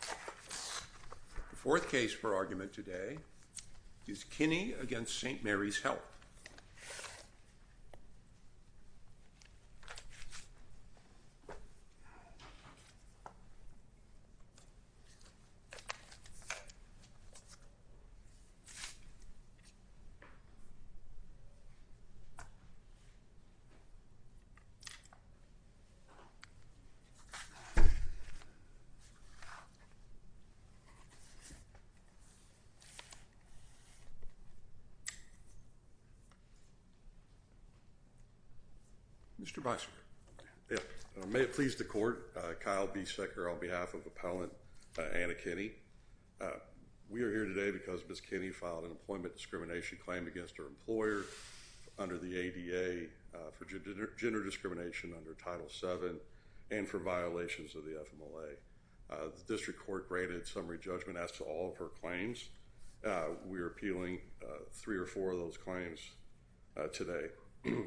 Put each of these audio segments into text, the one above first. The fourth case for argument today is Kinney v. St. Mary's Health. Mr. Bison, may it please the court, Kyle B. Secker on behalf of Appellant Anna Kinney. We are here today because Ms. Kinney filed an employment discrimination claim against her employer under the ADA for gender discrimination under Title VII and for violations of the District Court graded summary judgment as to all of her claims. We are appealing three or four of those claims today,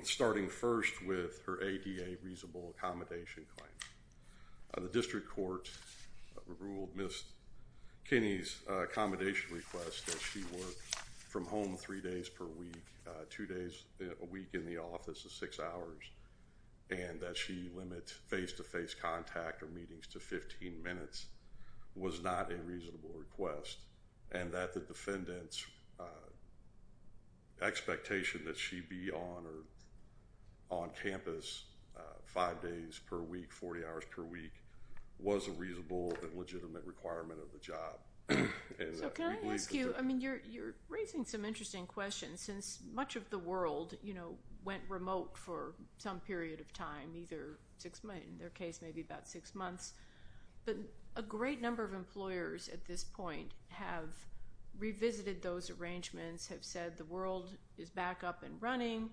starting first with her ADA reasonable accommodation claim. The District Court ruled Ms. Kinney's accommodation request that she work from home three days per week, two days a week in the office of six hours, and that she limit face-to-face contact or meetings to 15 minutes was not a reasonable request, and that the defendant's expectation that she be on or on campus five days per week, 40 hours per week was a reasonable and legitimate requirement of the job. So can I ask you, I mean, you're raising some interesting questions. Since much of the world, you know, went remote for some period of time, either six months, in their case, maybe about six months, but a great number of employers at this point have revisited those arrangements, have said the world is back up and running.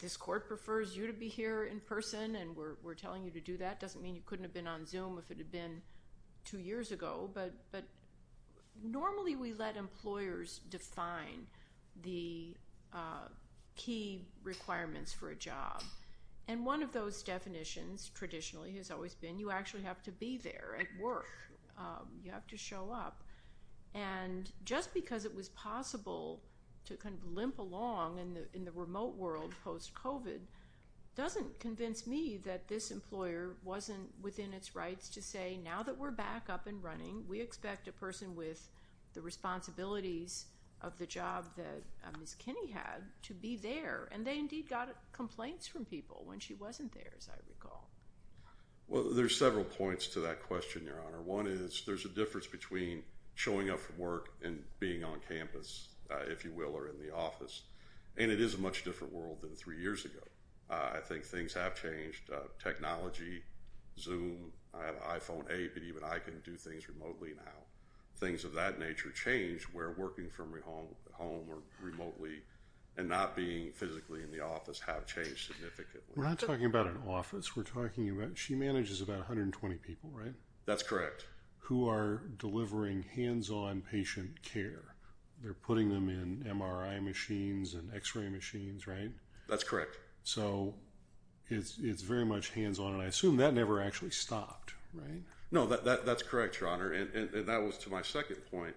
This court prefers you to be here in person, and we're telling you to do that. It doesn't mean you couldn't have been on Zoom if it had been two years ago, but normally we let employers define the key requirements for a job. And one of those definitions, traditionally, has always been you actually have to be there at work. You have to show up, and just because it was possible to kind of limp along in the remote world post-COVID doesn't convince me that this employer wasn't within its rights to say now that we're back up and running, we expect a person with the responsibilities of the job that Ms. Kinney had to be there, and they indeed got complaints from people when she wasn't there, as I recall. Well, there's several points to that question, Your Honor. One is there's a difference between showing up for work and being on campus, if you will, or in the office, and it is a much different world than three years ago. I think things have changed. Technology, Zoom, I have an iPhone 8, but even I can do things remotely now. Things of that nature change where working from home or remotely and not being physically in the office have changed significantly. We're not talking about an office. We're talking about she manages about 120 people, right? That's correct. Who are delivering hands-on patient care. They're putting them in MRI machines and x-ray machines, right? That's correct. So it's very much hands-on, and I assume that never actually stopped, right? No, that's correct, Your Honor. And that was to my second point.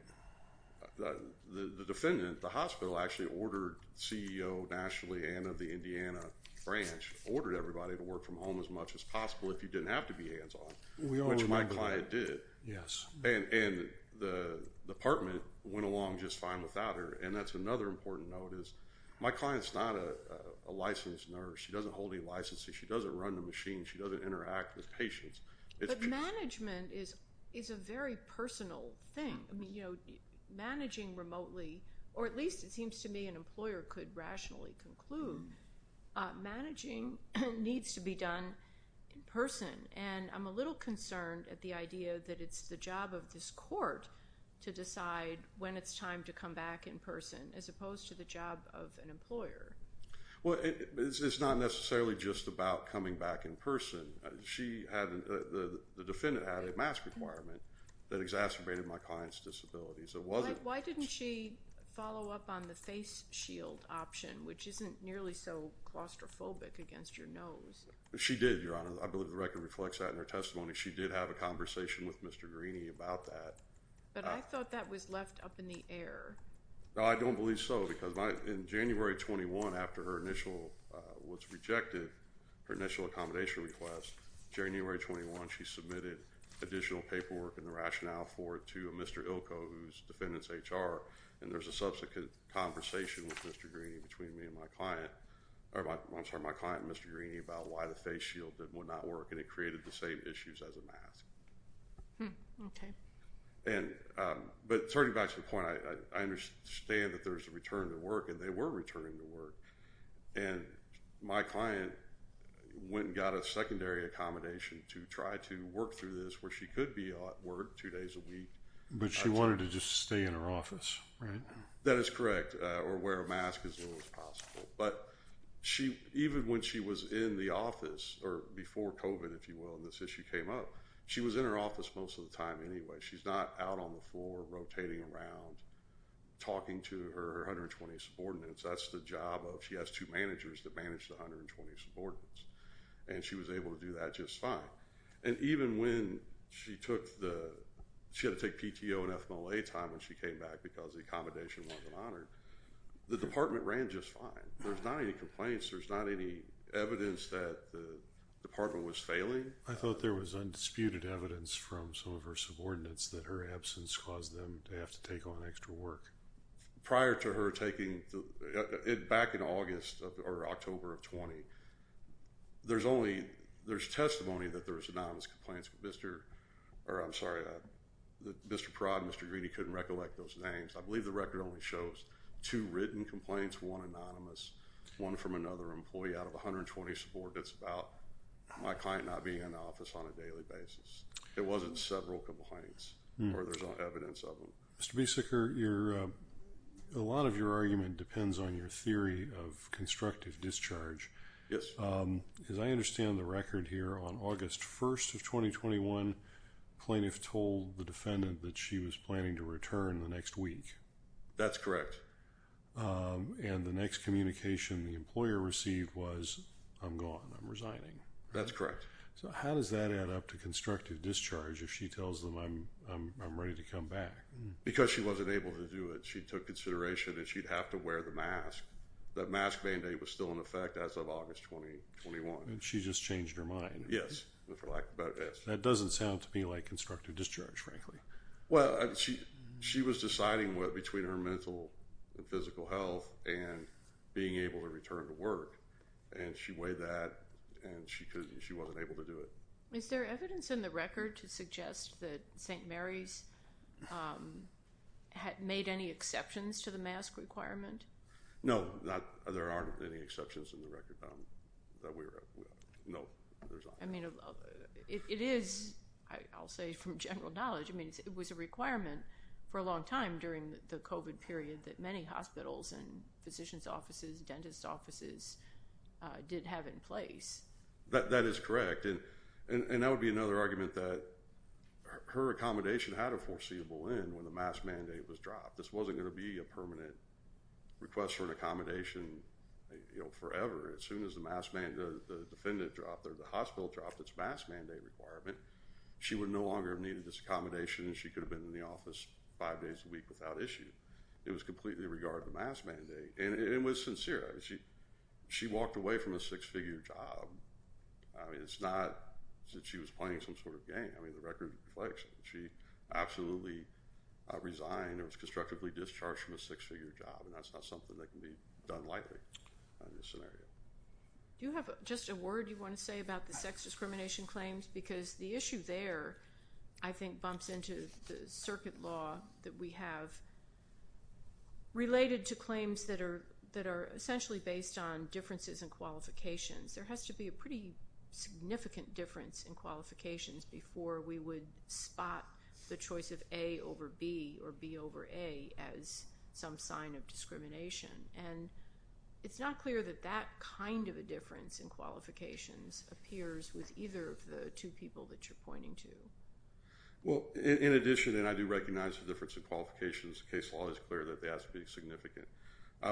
The defendant, the hospital actually ordered, CEO nationally and of the Indiana branch, ordered everybody to work from home as much as possible if you didn't have to be hands-on, which my client did. Yes. And the department went along just fine without her, and that's another important note is my client's not a licensed nurse. She doesn't hold any licenses. She doesn't run the machine. She doesn't interact with patients. But management is a very personal thing. Managing remotely, or at least it seems to me an employer could rationally conclude, managing needs to be done in person. And I'm a little concerned at the idea that it's the job of this court to decide when it's time to come back in person as opposed to the job of an employer. Well, it's not necessarily just about coming back in person. She had, the defendant had a mask requirement that exacerbated my client's disabilities. It wasn't. Why didn't she follow up on the face shield option, which isn't nearly so claustrophobic against your nose? She did, Your Honor. I believe the record reflects that in her testimony. She did have a conversation with Mr. Greeney about that. But I thought that was left up in the air. No, I don't believe so because in January 21, after her initial, was rejected, her initial accommodation request, January 21, she submitted additional paperwork and the rationale for it to Mr. Ilko, who's defendant's HR. And there's a subsequent conversation with Mr. Greeney between me and my client, or I'm sorry, my client, Mr. Greeney, about why the face shield would not work. And it created the same issues as a mask. Okay. And, but turning back to the point, I understand that there's a return to work, and they were returning to work. And my client went and got a secondary accommodation to try to work through this, where she could be at work two days a week. But she wanted to just stay in her office, right? That is correct, or wear a mask as little as possible. But she, even when she was in the office, or before COVID, if you will, and this issue came up, she was in her office most of the time anyway. She's not out on the floor, rotating around, talking to her 120 subordinates. That's the job of, she has two managers that manage the 120 subordinates. And she was able to do that just fine. And even when she took the, she had to take PTO and FMLA time when she came back because the accommodation wasn't honored, the department ran just fine. There's not any complaints. There's not any evidence that the department was failing. I thought there was undisputed evidence from some of her subordinates that her absence caused them to have to take on extra work. Prior to her taking, back in August or October of 20, there's only, there's testimony that there was anonymous complaints with Mr., or I'm sorry, Mr. Pratt and Mr. Greedy couldn't recollect those names. I believe the record only shows two written complaints, one anonymous, one from another employee out of 120 subordinates about my client not being in the office on a daily basis. It wasn't several complaints, or there's no evidence of them. Mr. Biesecker, a lot of your argument depends on your theory of constructive discharge. Yes. As I understand the record here, on August 1st of 2021, plaintiff told the defendant that she was planning to return the next week. That's correct. And the next communication the employer received was, I'm gone, I'm resigning. That's correct. So how does that add up to constructive discharge if she tells them I'm ready to come back? Because she wasn't able to do it. She took consideration and she'd have to wear the mask. The mask mandate was still in effect as of August 2021. And she just changed her mind. Yes. That doesn't sound to me like constructive discharge, frankly. Well, she was deciding between her mental and physical health and being able to return to work. And she weighed that and she wasn't able to do it. Is there evidence in the record to suggest that St. Mary's made any exceptions to the mask requirement? No, there aren't any exceptions in the record. No, there's not. I mean, it is, I'll say from general knowledge, I mean, it was a requirement for a long time during the COVID period that many hospitals and physician's offices, dentist's offices did have in place. That is correct. And that would be another argument that her accommodation had a foreseeable end when the mask mandate was dropped. This wasn't going to be a permanent request for an accommodation forever. As soon as the defendant dropped or the hospital dropped its mask mandate requirement, she would no longer have needed this accommodation. She could have been in the office five days a week without issue. It was completely regard the mask mandate. And it was sincere. She walked away from a six-figure job. I mean, it's not that she was playing some sort of game. I mean, the record reflects that she absolutely resigned or was constructively discharged from a six-figure job. And that's not something that can be done lightly in this scenario. Do you have just a word you want to say about the sex discrimination claims? Because the issue there, I think, bumps into the circuit law that we have related to claims that are essentially based on differences in qualifications. There has to be a pretty significant difference in qualifications before we would spot the choice of A over B or B over A as some sign of discrimination. And it's not clear that that kind of a difference in qualifications appears with either of the two people that you're pointing to. Well, in addition, and I do recognize the difference in qualifications, the case law is clear that they have to be significant.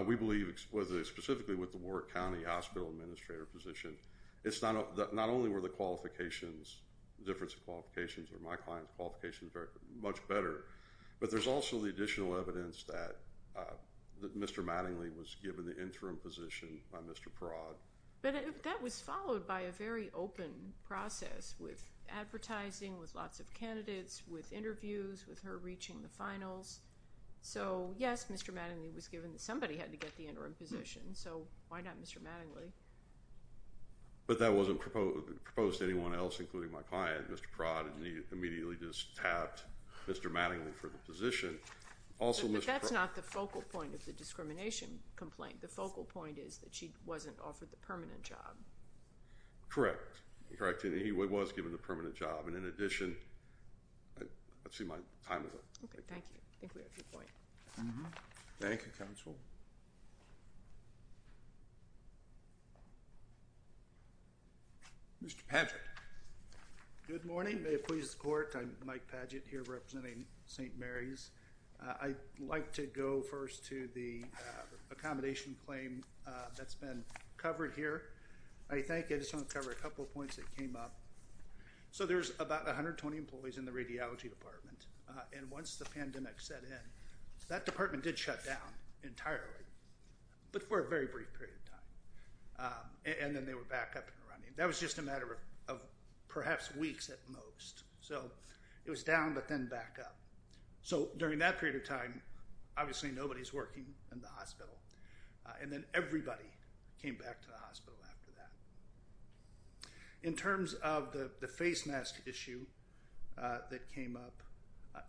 We believe, specifically with the Warwick County Hospital Administrator position, it's not only were the qualifications, difference in qualifications or my client's qualifications much better, but there's also the additional evidence that Mr. Mattingly was given the interim position by Mr. Perraud. But that was followed by a very open process with advertising, so yes, Mr. Mattingly was given, somebody had to get the interim position, so why not Mr. Mattingly? But that wasn't proposed to anyone else, including my client, Mr. Perraud, and he immediately just tapped Mr. Mattingly for the position. But that's not the focal point of the discrimination complaint. The focal point is that she wasn't offered the permanent job. Correct. Correct, and he was given the permanent job. And in addition, I see my time is up. Okay, thank you. I think we have your point. Thank you, counsel. Mr. Padgett. Good morning. May it please the court. I'm Mike Padgett here representing St. Mary's. I'd like to go first to the accommodation claim that's been covered here. I think I just want to cover a couple of points that came up. So there's about 120 employees in the radiology department, and once the pandemic set in, that department did shut down entirely, but for a very brief period of time, and then they were back up and running. That was just a matter of perhaps weeks at most. So it was down, but then back up. So during that period of time, obviously nobody's working in the hospital, and then everybody came back to the hospital after that. Okay. In terms of the face mask issue that came up.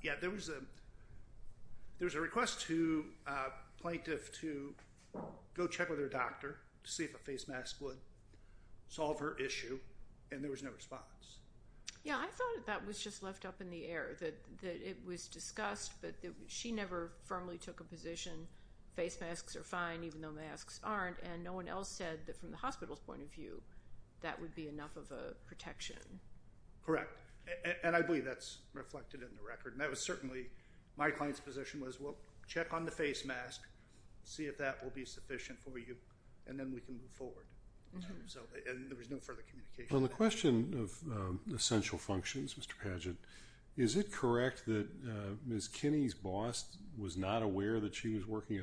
Yeah, there was a request to a plaintiff to go check with her doctor to see if a face mask would solve her issue, and there was no response. Yeah, I thought that was just left up in the air, that it was discussed, but she never firmly took a position. Face masks are fine, even though masks aren't, and no one else said that from the hospital's point of view, that would be enough of a protection. Correct, and I believe that's reflected in the record, and that was certainly my client's position was, well, check on the face mask, see if that will be sufficient for you, and then we can move forward, and there was no further communication. On the question of essential functions, Mr. Padgett, is it correct that Ms. Kinney's boss was not aware that she was working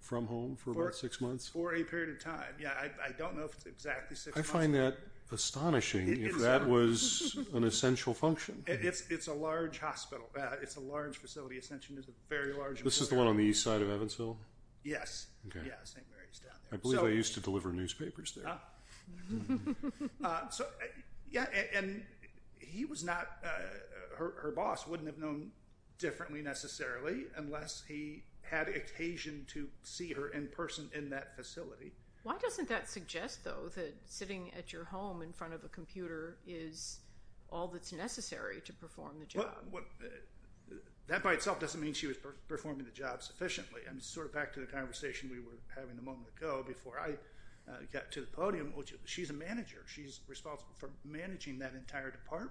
from home for about six months? For a period of time, yeah, I don't know if it's exactly six months. I find that astonishing, if that was an essential function. It's a large hospital, it's a large facility. Ascension is a very large hospital. This is the one on the east side of Evansville? Yes, yeah, St. Mary's down there. I believe they used to deliver newspapers there. So, yeah, and he was not, her boss wouldn't have known differently necessarily unless he had occasion to see her in person in that facility. Why doesn't that suggest, though, that sitting at your home in front of a computer is all that's necessary to perform the job? That by itself doesn't mean she was performing the job sufficiently. I mean, sort of back to the conversation we were having a moment ago before I got to the podium, she's a manager. She's responsible for managing that entire department,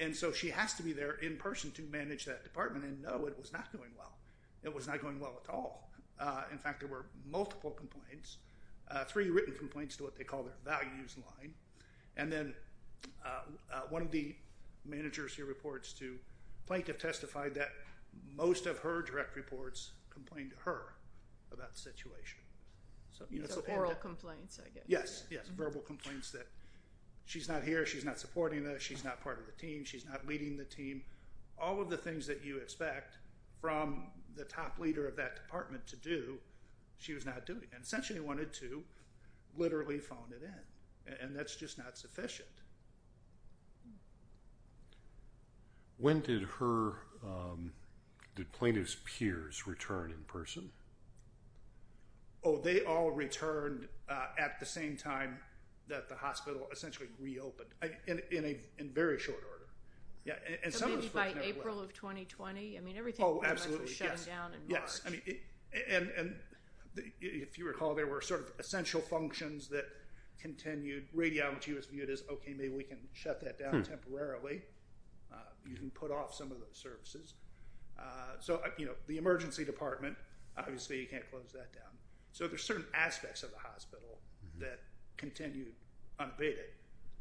and so she has to be there in person to manage that department, and no, it was not going well. It was not going well at all. In fact, there were multiple complaints, three written complaints to what they call their values line, and then one of the managers here reports to plaintiff testified that most of her direct reports complained to her about the situation. So oral complaints, I guess. Yes, yes, verbal complaints that she's not here, she's not supporting this, she's not part of the team, she's not leading the team. All of the things that you expect from the top leader of that department to do, she was not doing, and essentially wanted to literally phone it in, and that's just not sufficient. When did plaintiff's peers return in person? Oh, they all returned at the same time that the hospital essentially reopened, in very short order. And some of those folks never went. By April of 2020? I mean, everything was shutting down in March. Yes, and if you recall, there were sort of essential functions that continued. Radiology was viewed as, okay, maybe we can shut that down temporarily. You can put off some of those services. So the emergency department, obviously you can't close that down. So there's certain aspects of the hospital that continued unabated,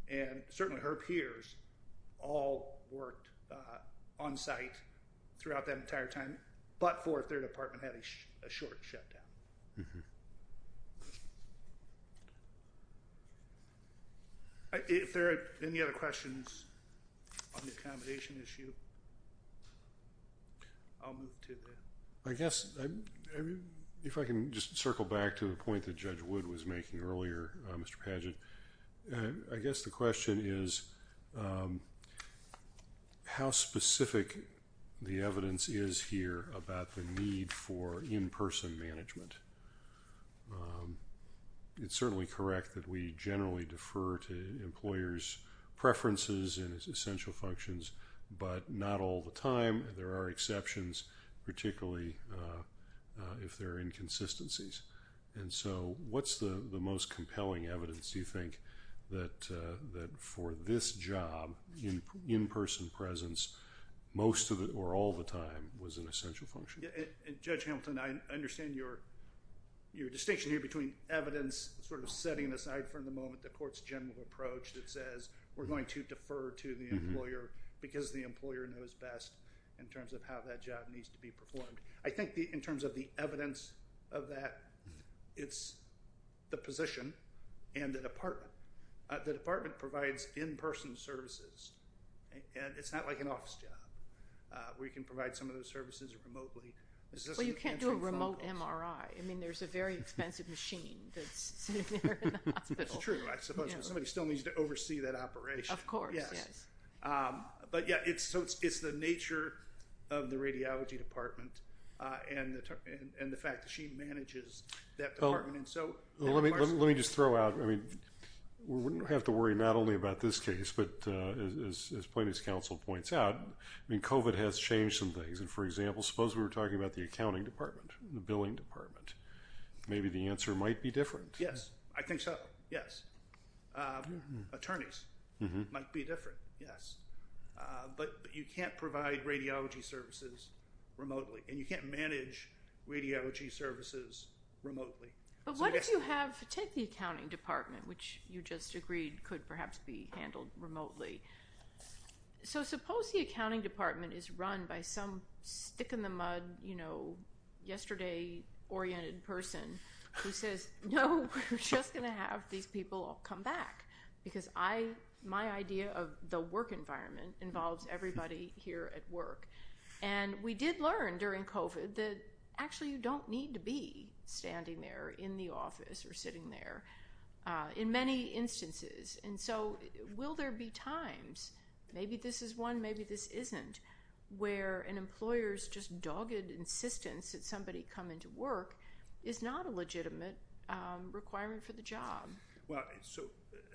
and certainly her peers all worked on site throughout that entire time, but for if their department had a short shutdown. If there are any other questions on the accommodation issue, I'll move to that. I guess, if I can just circle back to the point that Judge Wood was making earlier, Mr. Padgett, I guess the question is how specific the evidence is here about the need for in-person management. It's certainly correct that we generally defer to employers' preferences and essential functions, but not all the time. There are exceptions, particularly if there are inconsistencies. And so what's the most compelling evidence, do you think, that for this job, in-person presence, most of it or all the time was an essential function? Yeah, and Judge Hamilton, I understand your distinction here between evidence sort of setting aside for the moment the court's general approach that says we're going to defer to the employer because the employer knows best in terms of how that job needs to be performed. I think in terms of the evidence of that, it's the position and the department. The department provides in-person services, and it's not like an office job where you can provide some of those services remotely. Well, you can't do a remote MRI. I mean, there's a very expensive machine that's sitting there in the hospital. I suppose somebody still needs to oversee that operation. Of course, yes. But yeah, it's the nature of the radiology department and the fact that she manages that. Well, let me just throw out, I mean, we wouldn't have to worry not only about this case, but as plaintiff's counsel points out, I mean, COVID has changed some things. And for example, suppose we were talking about the accounting department, the billing department, maybe the answer might be different. Yes, I think so. Yes. Attorneys might be different. Yes. But you can't provide radiology services remotely, and you can't manage radiology services remotely. But what if you have, take the accounting department, which you just agreed could perhaps be handled remotely. So suppose the accounting department is run by some stick-in-the-mud, yesterday-oriented person who says, no, we're just going to have these people come back. Because my idea of the work environment involves everybody here at work. And we did learn during COVID that actually you don't need to be standing there in the office or sitting there in many instances. And so will there be times, maybe this is one, maybe this isn't, where an employer's just dogged insistence that somebody come into work is not a legitimate requirement for the job? Well, so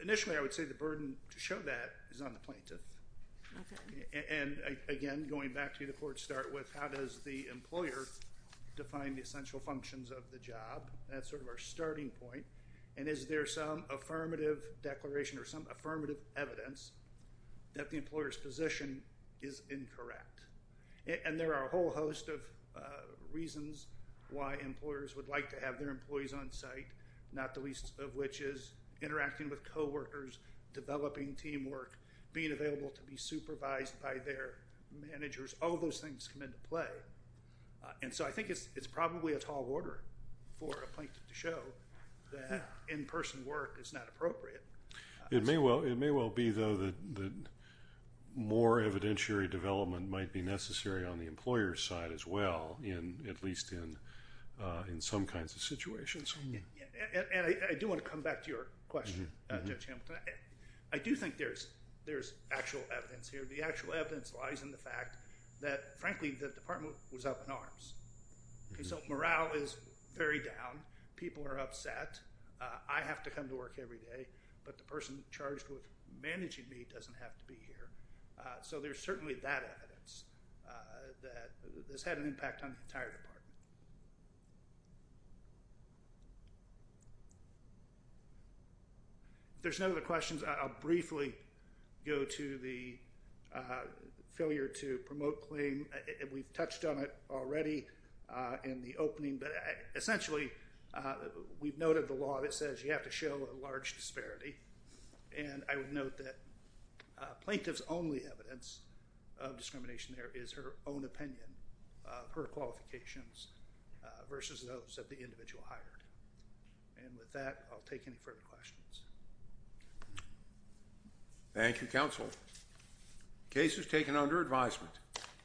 initially, I would say the burden to show that is on the plaintiff. And again, going back to the court start with, how does the employer define the essential functions of the job? That's sort of our starting point. And is there some affirmative declaration or some affirmative evidence that the employer's position is incorrect? And there are a whole host of reasons why employers would like to have their employees on site, not the least of which is interacting with co-workers, developing teamwork, being available to be supervised by their managers. All those things come into play. And so I think it's probably a tall order for a plaintiff to show that in-person work is not appropriate. It may well be, though, that more evidentiary development might be necessary on the employer's side as well, at least in some kinds of situations. And I do want to come back to your question, Judge Hamilton. I do think there's actual evidence here. The actual evidence lies in the fact that, frankly, the department was up in arms. So morale is very down. People are upset. I have to come to work every day. The person charged with managing me doesn't have to be here. So there's certainly that evidence that has had an impact on the entire department. If there's no other questions, I'll briefly go to the failure to promote claim. We've touched on it already in the opening. Essentially, we've noted the law that says you have to show a large disparity. And I would note that plaintiff's only evidence of discrimination there is her own opinion of her qualifications versus those of the individual hired. And with that, I'll take any further questions. Thank you, counsel. Case is taken under advisement.